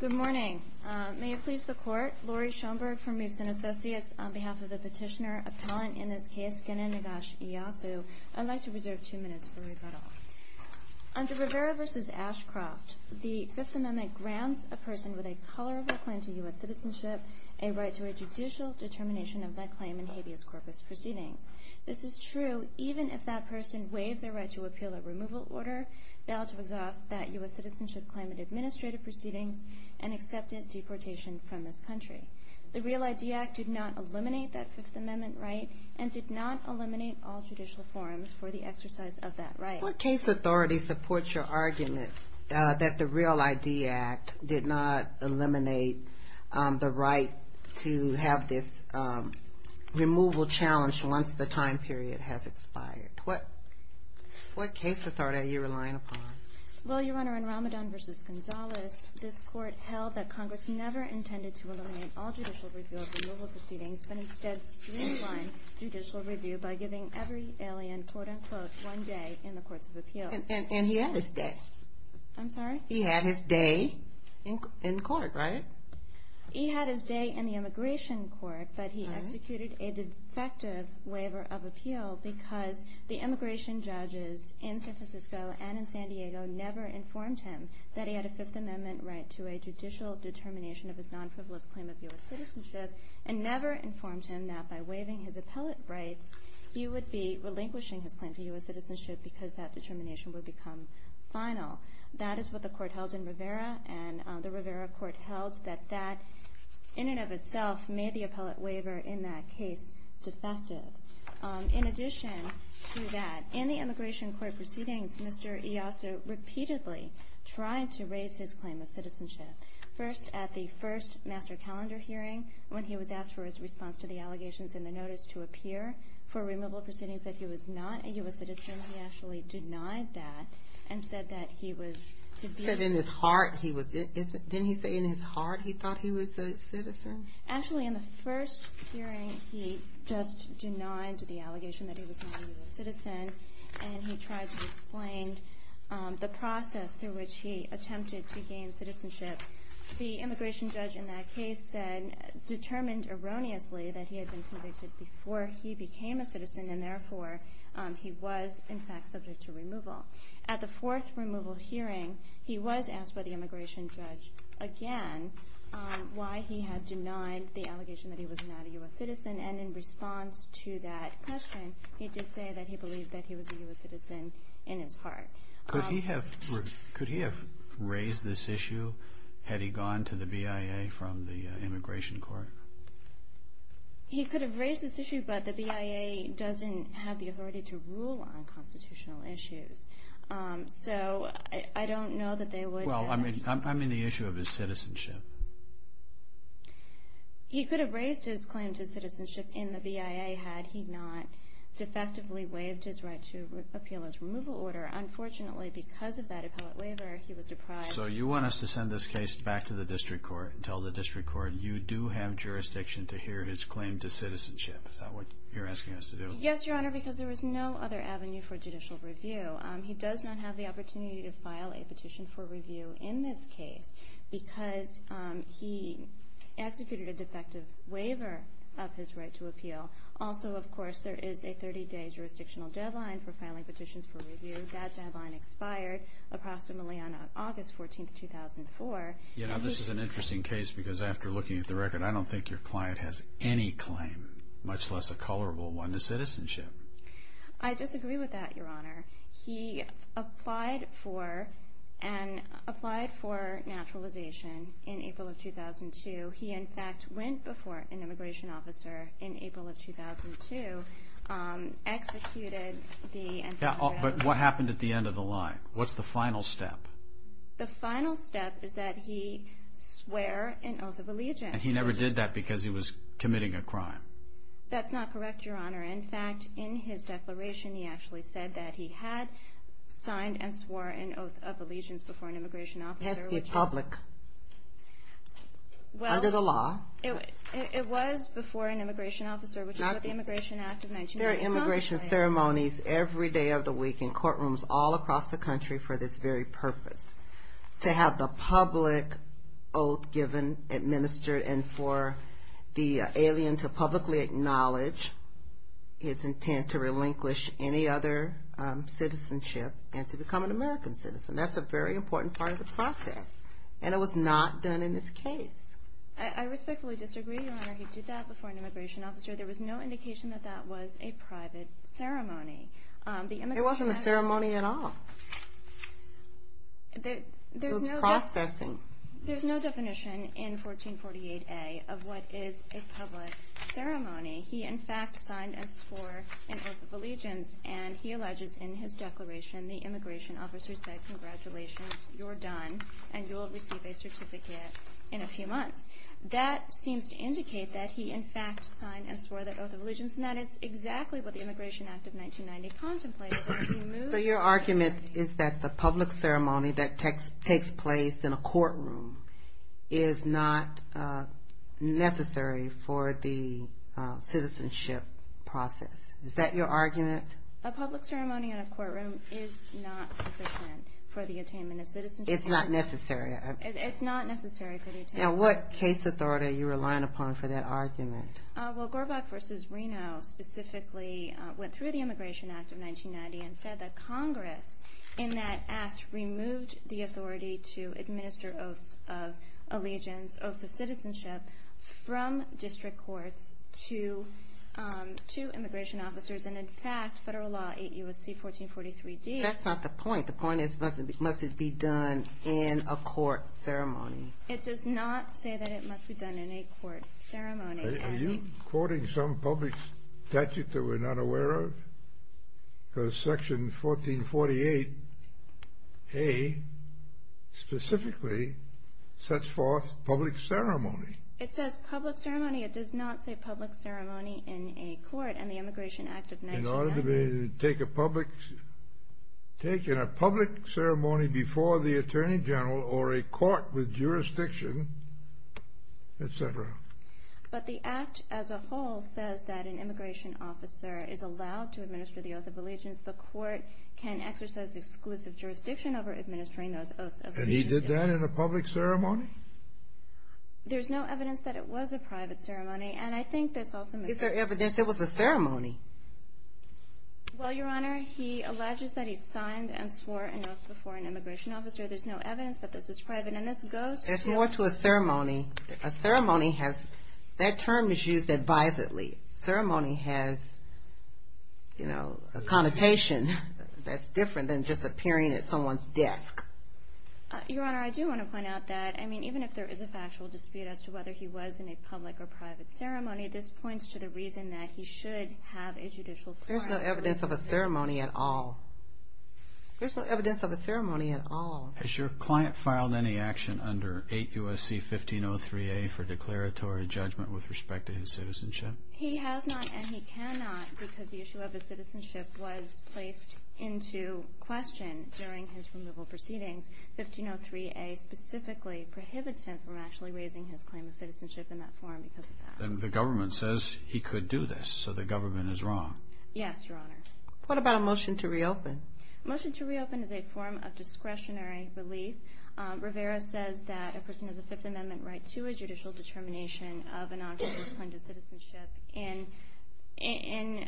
Good morning. May it please the Court, Lori Schoenberg from Reeves & Associates, on behalf of the petitioner-appellant in this case, Genan Nagash IASU, I'd like to reserve two minutes for rebuttal. Under Rivera v. Ashcroft, the Fifth Amendment grants a person with a tolerable claim to U.S. citizenship a right to a judicial determination of that claim in habeas corpus proceedings. This is true even if that person waived their right to appeal a removal order, failed to exhaust that U.S. citizenship claim in administrative proceedings, and accepted deportation from this country. The REAL ID Act did not eliminate that Fifth Amendment right and did not eliminate all judicial forms for the exercise of that right. What case authority supports your argument that the REAL ID Act did not eliminate the right to have this removal challenge once the time period has expired? What case authority are you relying upon? Well, Your Honor, in Ramadan v. Gonzales, this Court held that Congress never intended to eliminate all judicial review of removal proceedings, but instead streamline judicial review by giving every alien quote-unquote one day in the courts of appeals. And he had his day. I'm sorry? He had his day in court, right? He had his day in the immigration court, but he executed a defective waiver of appeal because the immigration judges in San Francisco and in San Diego never informed him that he had a Fifth Amendment right to a judicial determination of his non-frivolous claim of U.S. citizenship, and never informed him that by waiving his appellate rights, he would be relinquishing his claim to U.S. citizenship because that determination would become final. That is what the Court held in Rivera, and the Rivera Court held that that, in and of itself, made the appellate waiver in that case defective. In addition to that, in the immigration court proceedings, Mr. Iasso repeatedly tried to raise his claim of citizenship, first at the first master calendar hearing when he was asked for his response to the allegations in the notice to appear for removal proceedings that he was not a U.S. citizen. He actually denied that and said that he was... He said in his heart he was... Didn't he say in his heart he thought he was a citizen? Actually, in the first hearing, he just denied the allegation that he was not a U.S. citizen, and he tried to explain the process through which he attempted to gain citizenship. The immigration judge in that case said, determined erroneously, that he had been convicted before he became a citizen, and therefore he was, in fact, subject to removal. At the fourth removal hearing, he was asked by the immigration judge again why he had denied the allegation that he was not a U.S. citizen, and in response to that question, he did say that he believed that he was a U.S. citizen in his heart. Could he have raised this issue had he gone to the BIA from the immigration court? He could have raised this issue, but the BIA doesn't have the authority to rule on constitutional issues, so I don't know that they would have... Well, I mean the issue of his citizenship. He could have raised his claim to citizenship in the BIA had he not defectively waived his right to appeal his removal order. Unfortunately, because of that appellate waiver, he was deprived... So you want us to send this case back to the district court and tell the district court, you do have jurisdiction to hear his claim to citizenship. Is that what you're asking us to do? Yes, Your Honor, because there was no other avenue for judicial review. He does not have the opportunity to file a petition for review in this case because he executed a defective waiver of his right to appeal. Also, of course, there is a 30-day jurisdictional deadline for filing petitions for review. That deadline expired approximately on August 14, 2004. You know, this is an interesting case because after looking at the record, I don't think your client has any claim, much less a colorable one, to citizenship. I disagree with that, Your Honor. He applied for naturalization in April of 2002. He, in fact, went before an immigration officer in April of 2002, executed the... But what happened at the end of the line? What's the final step? The final step is that he swore an oath of allegiance. And he never did that because he was committing a crime? That's not correct, Your Honor. In fact, in his declaration, he actually said that he had signed and swore an oath of allegiance before an immigration officer... It has to be public, under the law. It was before an immigration officer, which is what the Immigration Act of 1995... There are immigration ceremonies every day of the week in courtrooms all across the country for this very purpose, to have the public oath given, administered, and for the alien to publicly acknowledge his intent to relinquish any other citizenship and to become an American citizen. That's a very important part of the process, and it was not done in this case. I respectfully disagree, Your Honor. He did that before an immigration officer. There was no indication that that was a private ceremony. It wasn't a ceremony at all. It was processing. There's no definition in 1448A of what is a public ceremony. He, in fact, signed and swore an oath of allegiance, and he alleges in his declaration the immigration officer said, Congratulations, you're done, and you'll receive a certificate in a few months. That seems to indicate that he, in fact, signed and swore that oath of allegiance, and that is exactly what the Immigration Act of 1990 contemplated. So your argument is that the public ceremony that takes place in a courtroom is not necessary for the citizenship process. Is that your argument? A public ceremony in a courtroom is not sufficient for the attainment of citizenship. It's not necessary. It's not necessary for the attainment. Now, what case authority are you relying upon for that argument? Well, Gorbach v. Reno specifically went through the Immigration Act of 1990 and said that Congress, in that act, removed the authority to administer oaths of allegiance, oaths of citizenship from district courts to immigration officers, and, in fact, federal law 8 U.S.C. 1443D... That's not the point. The point is, must it be done in a court ceremony? It does not say that it must be done in a court ceremony. Are you quoting some public statute that we're not aware of? Because Section 1448A specifically sets forth public ceremony. It says public ceremony. It does not say public ceremony in a court, and the Immigration Act of 1990... In order to take a public ceremony before the attorney general or a court with jurisdiction, etc. But the act as a whole says that an immigration officer is allowed to administer the oath of allegiance. The court can exercise exclusive jurisdiction over administering those oaths of allegiance. And he did that in a public ceremony? There's no evidence that it was a private ceremony, and I think this also... Is there evidence it was a ceremony? Well, Your Honor, he alleges that he signed and swore an oath before an immigration officer. There's no evidence that this is private, and this goes to... There's more to a ceremony. A ceremony has... That term is used advisedly. Ceremony has, you know, a connotation that's different than just appearing at someone's desk. Your Honor, I do want to point out that, I mean, even if there is a factual dispute as to whether he was in a public or private ceremony, this points to the reason that he should have a judicial... There's no evidence of a ceremony at all. There's no evidence of a ceremony at all. Has your client filed any action under 8 U.S.C. 1503A for declaratory judgment with respect to his citizenship? He has not, and he cannot, because the issue of his citizenship was placed into question during his removal proceedings. 1503A specifically prohibits him from actually raising his claim of citizenship in that form because of that. Then the government says he could do this, so the government is wrong. Yes, Your Honor. What about a motion to reopen? A motion to reopen is a form of discretionary relief. Rivera says that a person has a Fifth Amendment right to a judicial determination of an option to claim to citizenship in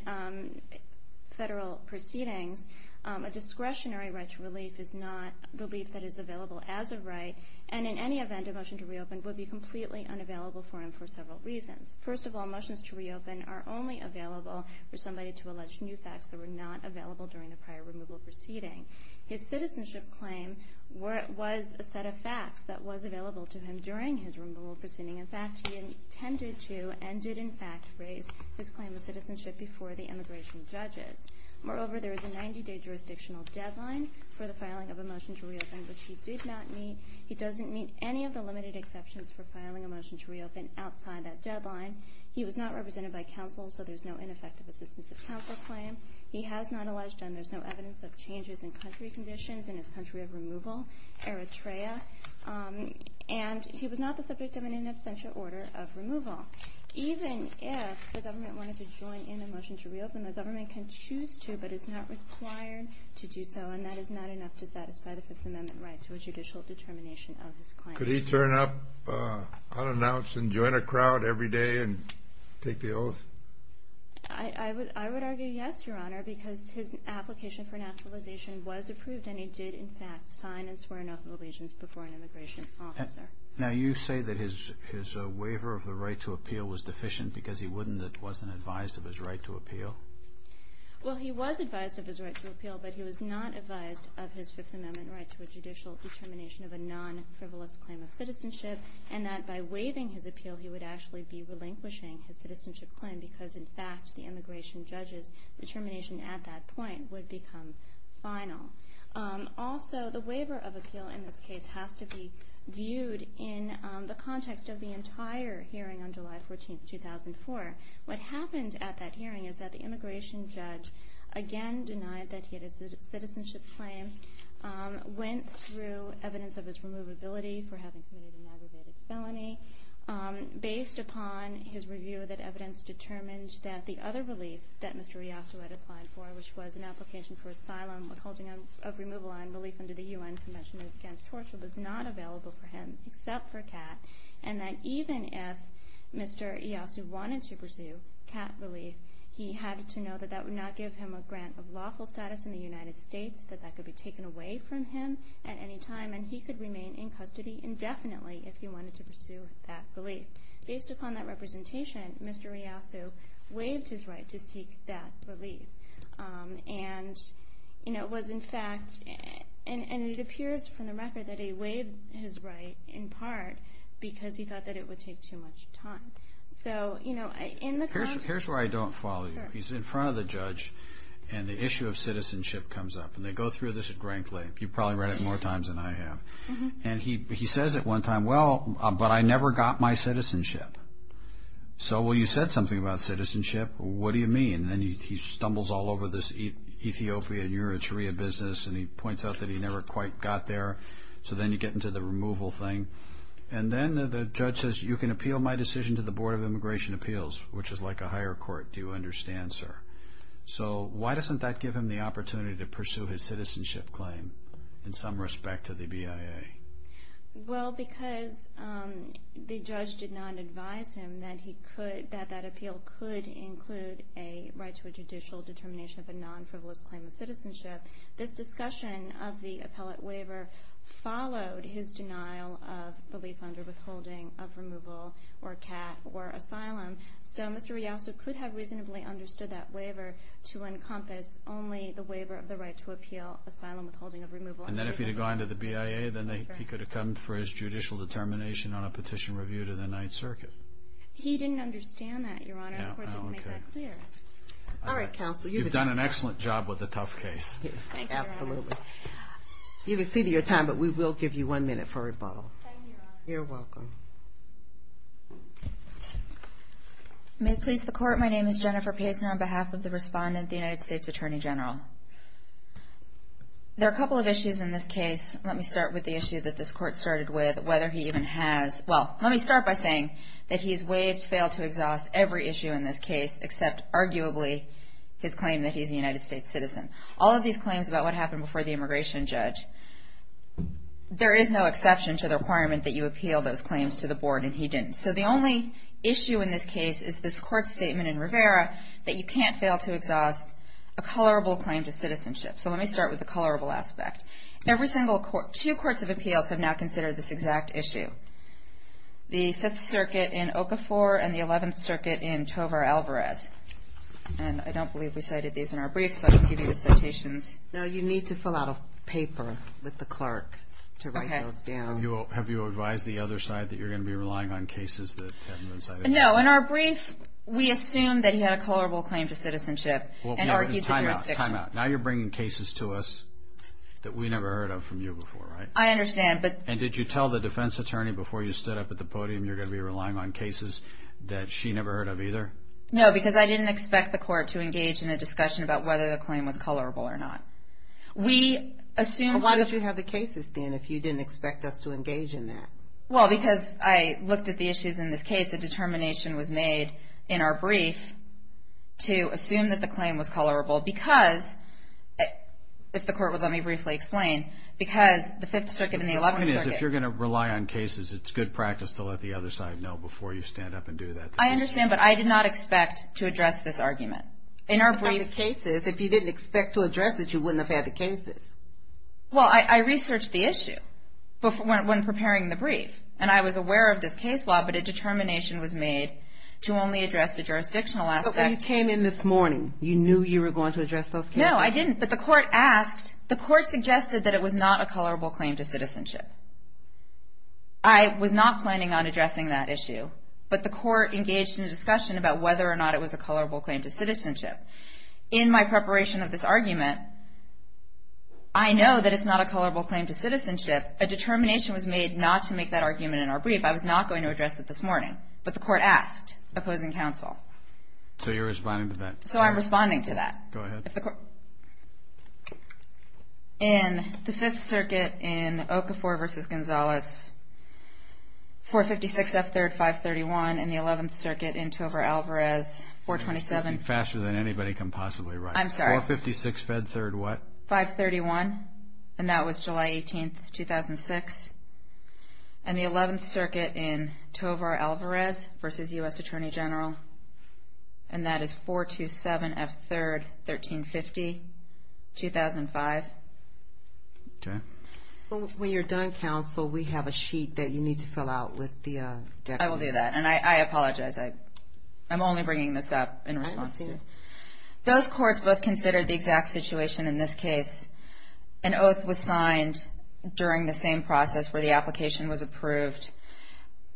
federal proceedings. A discretionary right to relief is not the relief that is available as a right, and in any event, a motion to reopen would be completely unavailable for him for several reasons. First of all, motions to reopen are only available for somebody to allege new facts that were not available during the prior removal proceeding. His citizenship claim was a set of facts that was available to him during his removal proceeding. In fact, he intended to and did, in fact, raise his claim of citizenship before the immigration judges. Moreover, there is a 90-day jurisdictional deadline for the filing of a motion to reopen, which he did not meet. He doesn't meet any of the limited exceptions for filing a motion to reopen outside that deadline. He was not represented by counsel, so there's no ineffective assistance of counsel claim. He has not alleged, and there's no evidence of changes in country conditions in his country of removal, Eritrea. And he was not the subject of an in absentia order of removal. Even if the government wanted to join in a motion to reopen, the government can choose to but is not required to do so, and that is not enough to satisfy the Fifth Amendment right to a judicial determination of his claim. Could he turn up unannounced and join a crowd every day and take the oath? I would argue yes, Your Honor, because his application for naturalization was approved and he did, in fact, sign and swear an oath of allegiance before an immigration officer. Now, you say that his waiver of the right to appeal was deficient because he wasn't advised of his right to appeal? Well, he was advised of his right to appeal, but he was not advised of his Fifth Amendment right to a judicial determination of a non-frivolous claim of citizenship, and that by waiving his appeal he would actually be relinquishing his citizenship claim because, in fact, the immigration judge's determination at that point would become final. Also, the waiver of appeal in this case has to be viewed in the context of the entire hearing on July 14, 2004. What happened at that hearing is that the immigration judge again denied that he had a citizenship claim, went through evidence of his removability for having committed an aggravated felony, based upon his review that evidence determined that the other relief that Mr. Iyasu had applied for, which was an application for asylum withholding of removal and relief under the U.N. Convention Against Torture, was not available for him except for CAT, and that even if Mr. Iyasu wanted to pursue CAT relief, he had to know that that would not give him a grant of lawful status in the United States, that that could be taken away from him at any time, and he could remain in custody indefinitely if he wanted to pursue that relief. Based upon that representation, Mr. Iyasu waived his right to seek that relief, and it appears from the record that he waived his right in part because he thought that it would take too much time. Here's where I don't follow you. He's in front of the judge, and the issue of citizenship comes up, and they go through this at rank length. You've probably read it more times than I have, and he says at one time, well, but I never got my citizenship. So, well, you said something about citizenship. What do you mean? And then he stumbles all over this Ethiopia and Eritrea business, and he points out that he never quite got there, so then you get into the removal thing, and then the judge says you can appeal my decision to the Board of Immigration Appeals, which is like a higher court, do you understand, sir? So why doesn't that give him the opportunity to pursue his citizenship claim in some respect to the BIA? Well, because the judge did not advise him that that appeal could include a right to a judicial determination of a non-frivolous claim of citizenship. This discussion of the appellate waiver followed his denial of belief under withholding of removal or cat or asylum. So Mr. Riaso could have reasonably understood that waiver to encompass only the waiver of the right to appeal asylum withholding of removal. And then if he had gone to the BIA, then he could have come for his judicial determination on a petition review to the Ninth Circuit. He didn't understand that, Your Honor. The court didn't make that clear. All right, counsel. You've done an excellent job with a tough case. Thank you, Your Honor. Absolutely. You've exceeded your time, but we will give you one minute for rebuttal. Thank you, Your Honor. You're welcome. May it please the Court, my name is Jennifer Pazner on behalf of the respondent, the United States Attorney General. There are a couple of issues in this case. Let me start with the issue that this Court started with, whether he even has – well, let me start by saying that he's waived, failed to exhaust every issue in this case except arguably his claim that he's a United States citizen. All of these claims about what happened before the immigration judge, there is no exception to the requirement that you appeal those claims to the Board, and he didn't. So the only issue in this case is this Court statement in Rivera that you can't fail to exhaust a colorable claim to citizenship. So let me start with the colorable aspect. Every single – two courts of appeals have now considered this exact issue. The Fifth Circuit in Okafor and the Eleventh Circuit in Tovar, Alvarez. And I don't believe we cited these in our briefs, so I can give you the citations. No, you need to fill out a paper with the clerk to write those down. Okay. Have you advised the other side that you're going to be relying on cases that haven't been cited? No. In our brief, we assumed that he had a colorable claim to citizenship and argued the jurisdiction. Time out. Time out. Now you're bringing cases to us that we never heard of from you before, right? I understand, but – And did you tell the defense attorney before you stood up at the podium you're going to be relying on cases that she never heard of either? No, because I didn't expect the Court to engage in a discussion about whether the claim was colorable or not. We assumed – Well, why did you have the cases, then, if you didn't expect us to engage in that? Well, because I looked at the issues in this case. A determination was made in our brief to assume that the claim was colorable because – if the Court would let me briefly explain – because the Fifth Circuit and the Eleventh Circuit – The point is, if you're going to rely on cases, it's good practice to let the other side know before you stand up and do that. I understand, but I did not expect to address this argument. In our brief – What about the cases? If you didn't expect to address it, you wouldn't have had the cases. Well, I researched the issue when preparing the brief, and I was aware of this case law, but a determination was made to only address the jurisdictional aspect. Well, you came in this morning. You knew you were going to address those cases. No, I didn't. But the Court asked – the Court suggested that it was not a colorable claim to citizenship. I was not planning on addressing that issue, but the Court engaged in a discussion about whether or not it was a colorable claim to citizenship. In my preparation of this argument, I know that it's not a colorable claim to citizenship. A determination was made not to make that argument in our brief. I was not going to address it this morning, but the Court asked, opposing counsel. So you're responding to that? So I'm responding to that. Go ahead. In the Fifth Circuit in Okafor v. Gonzalez, 456 F. 3rd, 531. In the Eleventh Circuit in Tovar Alvarez, 427. You're speaking faster than anybody can possibly write. I'm sorry. 456 F. 3rd, what? 531, and that was July 18, 2006. And the Eleventh Circuit in Tovar Alvarez v. U.S. Attorney General, and that is 427 F. 3rd, 1350, 2005. Okay. When you're done, counsel, we have a sheet that you need to fill out with the – I will do that, and I apologize. I'm only bringing this up in response to you. I understand. Those courts both considered the exact situation in this case. An oath was signed during the same process where the application was approved.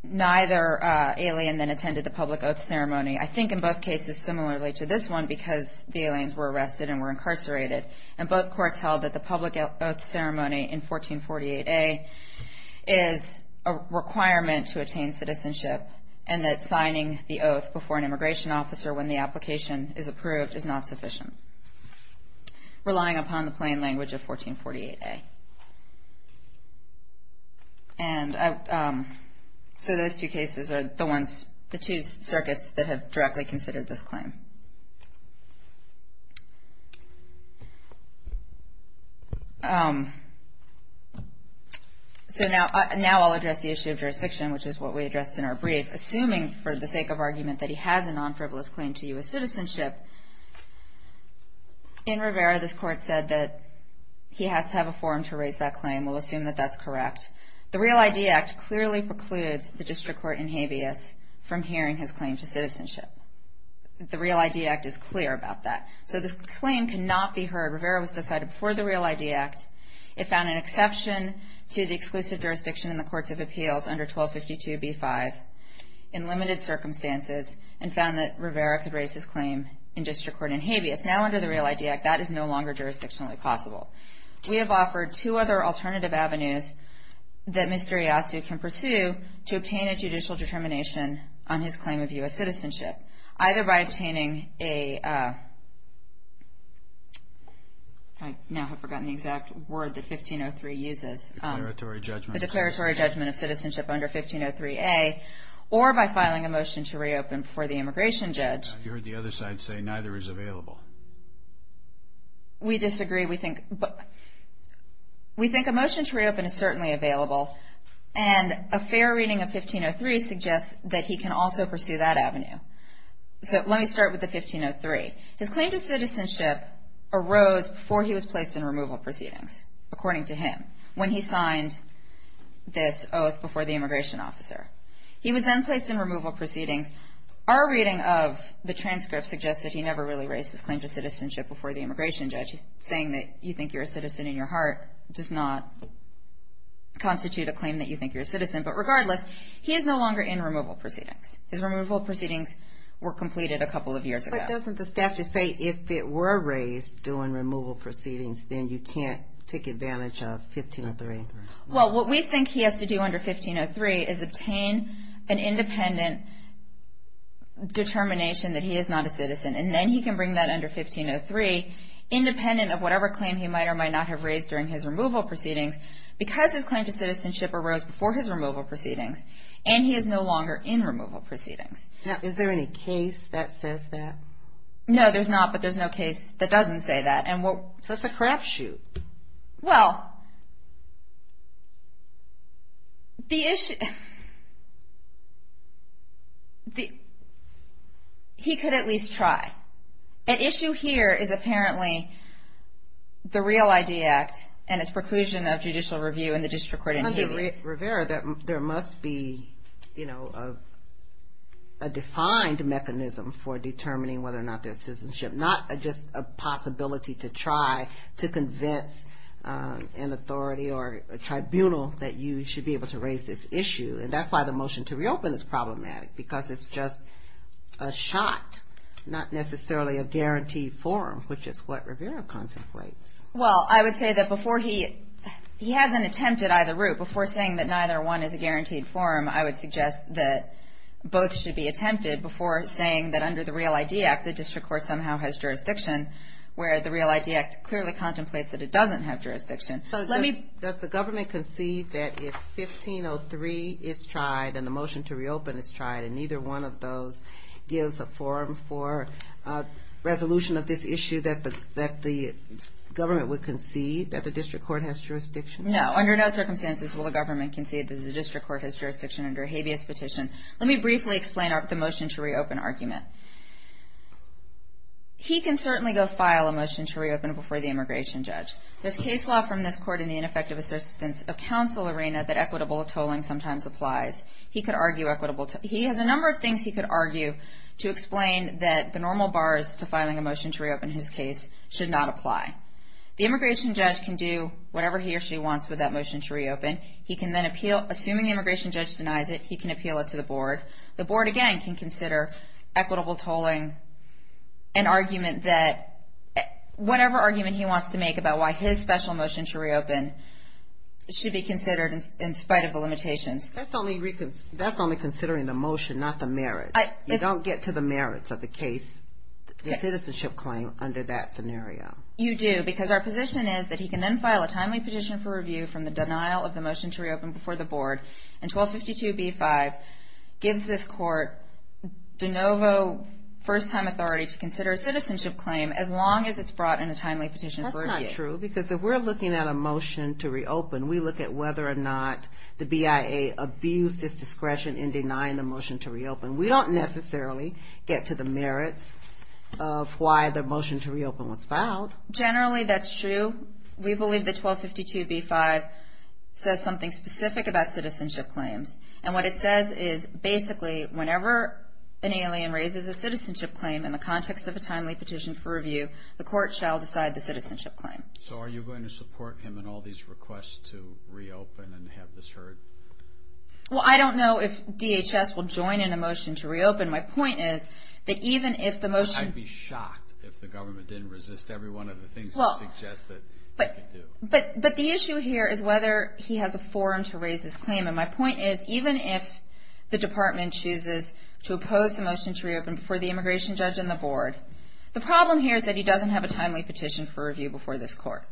Neither alien then attended the public oath ceremony. I think in both cases similarly to this one because the aliens were arrested and were incarcerated. And both courts held that the public oath ceremony in 1448A is a requirement to attain citizenship and that signing the oath before an immigration officer when the application is approved is not sufficient. Relying upon the plain language of 1448A. And so those two cases are the ones – the two circuits that have directly considered this claim. So now I'll address the issue of jurisdiction, which is what we addressed in our brief. Assuming for the sake of argument that he has a non-frivolous claim to U.S. citizenship, in Rivera this court said that he has to have a forum to raise that claim. We'll assume that that's correct. The Real ID Act clearly precludes the district court in Habeas from hearing his claim to citizenship. The Real ID Act is clear about that. So this claim cannot be heard. Rivera was decided before the Real ID Act. It found an exception to the exclusive jurisdiction in the courts of appeals under 1252b-5 in limited circumstances and found that Rivera could raise his claim in district court in Habeas. Now under the Real ID Act, that is no longer jurisdictionally possible. We have offered two other alternative avenues that Mr. Iassu can pursue to obtain a judicial determination on his claim of U.S. citizenship. Either by obtaining a, I now have forgotten the exact word that 1503 uses. A declaratory judgment of citizenship. A declaratory judgment of citizenship under 1503a. Or by filing a motion to reopen for the immigration judge. You heard the other side say neither is available. We disagree. We think a motion to reopen is certainly available. And a fair reading of 1503 suggests that he can also pursue that avenue. So let me start with the 1503. His claim to citizenship arose before he was placed in removal proceedings, according to him, when he signed this oath before the immigration officer. He was then placed in removal proceedings. Our reading of the transcript suggests that he never really raised his claim to citizenship before the immigration judge. Saying that you think you're a citizen in your heart does not constitute a claim that you think you're a citizen. But regardless, he is no longer in removal proceedings. His removal proceedings were completed a couple of years ago. But doesn't the statute say if it were raised during removal proceedings, then you can't take advantage of 1503? Well, what we think he has to do under 1503 is obtain an independent determination that he is not a citizen, and then he can bring that under 1503, independent of whatever claim he might or might not have raised during his removal proceedings, because his claim to citizenship arose before his removal proceedings, and he is no longer in removal proceedings. Now, is there any case that says that? No, there's not, but there's no case that doesn't say that. So it's a crapshoot. Well, he could at least try. An issue here is apparently the REAL ID Act and its preclusion of judicial review in the district court in Havis. Under Rivera, there must be a defined mechanism for determining whether or not there's citizenship, not just a possibility to try to convince an authority or a tribunal that you should be able to raise this issue. And that's why the motion to reopen is problematic, because it's just a shot, not necessarily a guaranteed form, which is what Rivera contemplates. Well, I would say that before he has an attempt at either route, before saying that neither one is a guaranteed form, I would suggest that both should be attempted before saying that under the REAL ID Act, the district court somehow has jurisdiction, where the REAL ID Act clearly contemplates that it doesn't have jurisdiction. Does the government concede that if 1503 is tried and the motion to reopen is tried and neither one of those gives a forum for resolution of this issue, that the government would concede that the district court has jurisdiction? No, under no circumstances will the government concede that the district court has jurisdiction under a Havis petition. Let me briefly explain the motion to reopen argument. He can certainly go file a motion to reopen before the immigration judge. There's case law from this court in the ineffective assistance of counsel arena that equitable tolling sometimes applies. He has a number of things he could argue to explain that the normal bars to filing a motion to reopen his case should not apply. The immigration judge can do whatever he or she wants with that motion to reopen. He can then appeal, assuming the immigration judge denies it, he can appeal it to the board. The board, again, can consider equitable tolling an argument that whatever argument he wants to make about why his special motion to reopen should be considered in spite of the limitations. That's only considering the motion, not the merits. You don't get to the merits of the case, the citizenship claim, under that scenario. You do, because our position is that he can then file a timely petition for review from the denial of the motion to reopen before the board. And 1252b-5 gives this court de novo first-time authority to consider a citizenship claim as long as it's brought in a timely petition for review. That's not true, because if we're looking at a motion to reopen, we look at whether or not the BIA abused its discretion in denying the motion to reopen. We don't necessarily get to the merits of why the motion to reopen was filed. Generally, that's true. We believe that 1252b-5 says something specific about citizenship claims. And what it says is, basically, whenever an alien raises a citizenship claim in the context of a timely petition for review, the court shall decide the citizenship claim. So are you going to support him in all these requests to reopen and have this heard? Well, I don't know if DHS will join in a motion to reopen. My point is that even if the motion— But the issue here is whether he has a forum to raise his claim. And my point is, even if the department chooses to oppose the motion to reopen before the immigration judge and the board, the problem here is that he doesn't have a timely petition for review before this court.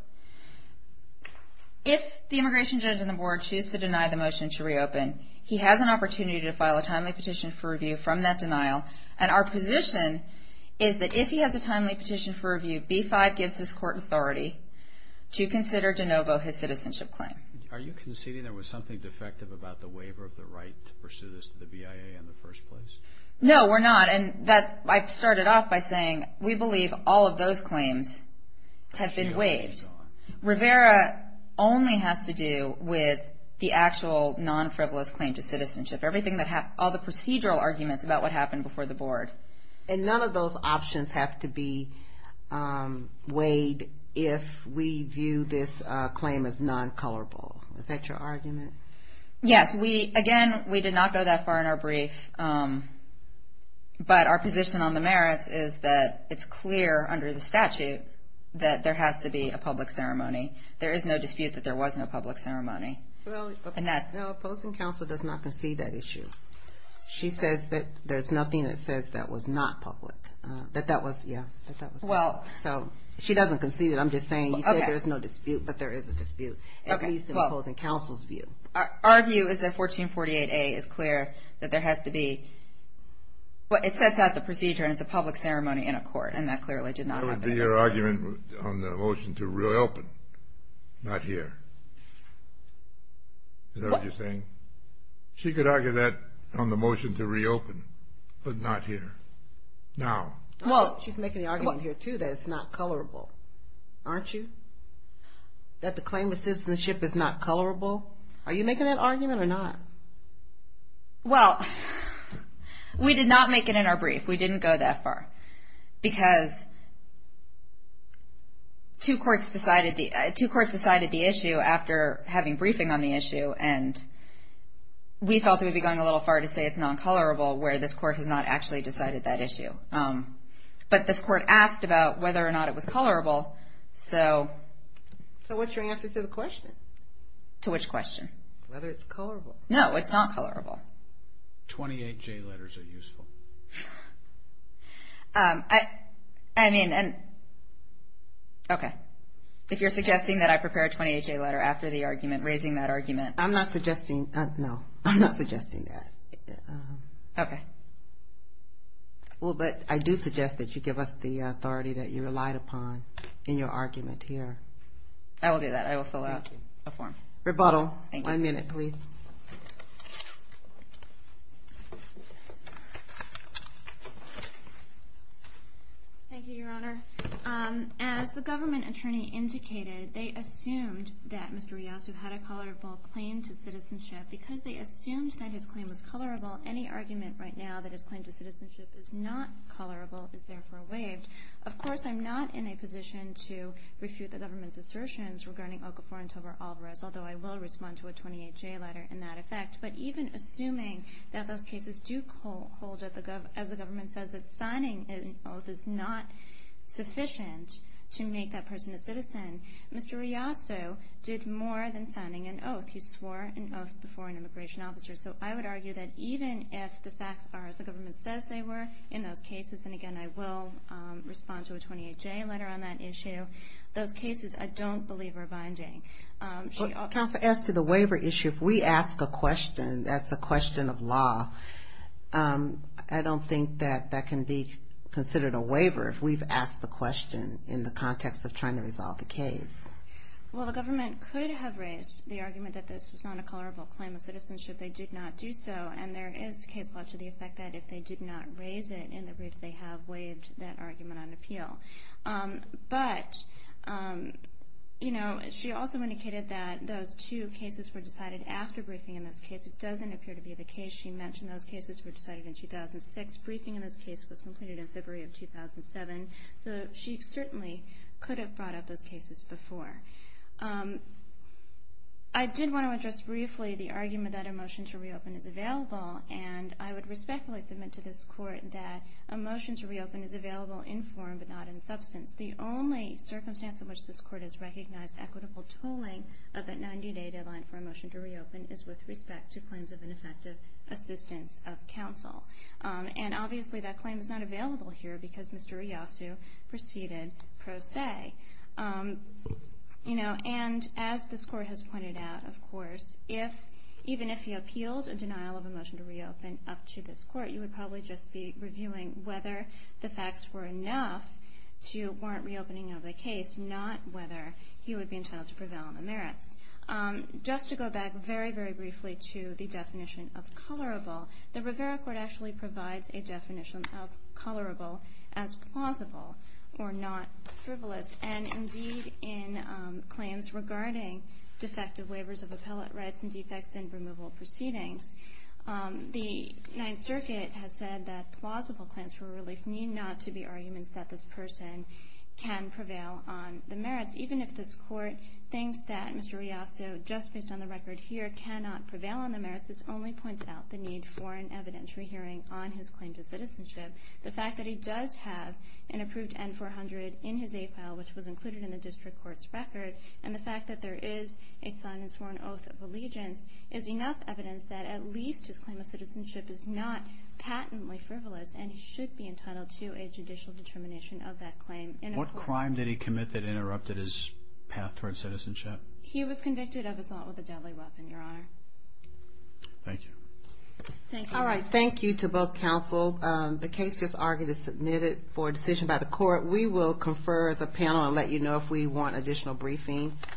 If the immigration judge and the board choose to deny the motion to reopen, he has an opportunity to file a timely petition for review from that denial. 1252b-5 gives this court authority to consider DeNovo his citizenship claim. Are you conceding there was something defective about the waiver of the right to pursue this to the BIA in the first place? No, we're not. And I started off by saying we believe all of those claims have been waived. Rivera only has to do with the actual non-frivolous claim to citizenship, all the procedural arguments about what happened before the board. And none of those options have to be waived if we view this claim as non-colorable. Is that your argument? Yes. Again, we did not go that far in our brief, but our position on the merits is that it's clear under the statute that there has to be a public ceremony. There is no dispute that there was no public ceremony. No, opposing counsel does not concede that issue. She says that there's nothing that says that was not public, that that was, yeah. So she doesn't concede it. I'm just saying you said there's no dispute, but there is a dispute, at least in opposing counsel's view. Our view is that 1448A is clear that there has to be. It sets out the procedure, and it's a public ceremony in a court, and that clearly did not happen in this case. That would be your argument on the motion to reopen, not here. Is that what you're saying? She could argue that on the motion to reopen, but not here, now. Well, she's making the argument here, too, that it's not colorable, aren't you? That the claim of citizenship is not colorable. Are you making that argument or not? Well, we did not make it in our brief. We didn't go that far because two courts decided the issue after having briefing on the issue, and we felt it would be going a little far to say it's non-colorable where this court has not actually decided that issue. But this court asked about whether or not it was colorable, so. So what's your answer to the question? To which question? Whether it's colorable. No, it's not colorable. 28J letters are useful. I mean, okay. If you're suggesting that I prepare a 28J letter after the argument, raising that argument. I'm not suggesting that. Okay. Well, but I do suggest that you give us the authority that you relied upon in your argument here. I will do that. I will fill out a form. Rebuttal. One minute, please. Thank you, Your Honor. As the government attorney indicated, they assumed that Mr. Riasu had a colorable claim to citizenship. Because they assumed that his claim was colorable, any argument right now that his claim to citizenship is not colorable is therefore waived. Of course, I'm not in a position to refute the government's assertions regarding Okafor and Tovar Alvarez, although I will respond to a 28J letter in that effect. But even assuming that those cases do hold, as the government says, that signing an oath is not sufficient to make that person a citizen, Mr. Riasu did more than signing an oath. He swore an oath before an immigration officer. So I would argue that even if the facts are as the government says they were in those cases, and again, I will respond to a 28J letter on that issue, those cases I don't believe are binding. Counsel, as to the waiver issue, if we ask a question that's a question of law, I don't think that that can be considered a waiver if we've asked the question in the context of trying to resolve the case. Well, the government could have raised the argument that this was not a colorable claim of citizenship. They did not do so. And there is case law to the effect that if they did not raise it in the brief, they have waived that argument on appeal. But, you know, she also indicated that those two cases were decided after briefing in this case. It doesn't appear to be the case she mentioned. Those cases were decided in 2006. Briefing in this case was completed in February of 2007. So she certainly could have brought up those cases before. I did want to address briefly the argument that a motion to reopen is available, and I would respectfully submit to this Court that a motion to reopen is available in form but not in substance. The only circumstance in which this Court has recognized equitable tooling of that 90-day deadline for a motion to reopen is with respect to claims of ineffective assistance of counsel. And obviously that claim is not available here because Mr. Iyasu proceeded pro se. And as this Court has pointed out, of course, even if he appealed a denial of a motion to reopen up to this Court, you would probably just be reviewing whether the facts were enough to warrant reopening of the case, not whether he would be entitled to prevail on the merits. Just to go back very, very briefly to the definition of colorable, the Rivera Court actually provides a definition of colorable as plausible or not frivolous, and indeed in claims regarding defective waivers of appellate rights and defects in removal proceedings. The Ninth Circuit has said that plausible claims for relief need not to be arguments that this person can prevail on the merits. Even if this Court thinks that Mr. Iyasu, just based on the record here, cannot prevail on the merits, this only points out the need for an evidentiary hearing on his claim to citizenship. The fact that he does have an approved N-400 in his A-file, which was included in the District Court's record, and the fact that there is a sign and sworn oath of allegiance is enough evidence that at least his claim of citizenship is not patently frivolous, and he should be entitled to a judicial determination of that claim. What crime did he commit that interrupted his path towards citizenship? He was convicted of assault with a deadly weapon, Your Honor. Thank you. All right, thank you to both counsel. The case just argued is submitted for decision by the Court. We will confer as a panel and let you know if we want additional briefing.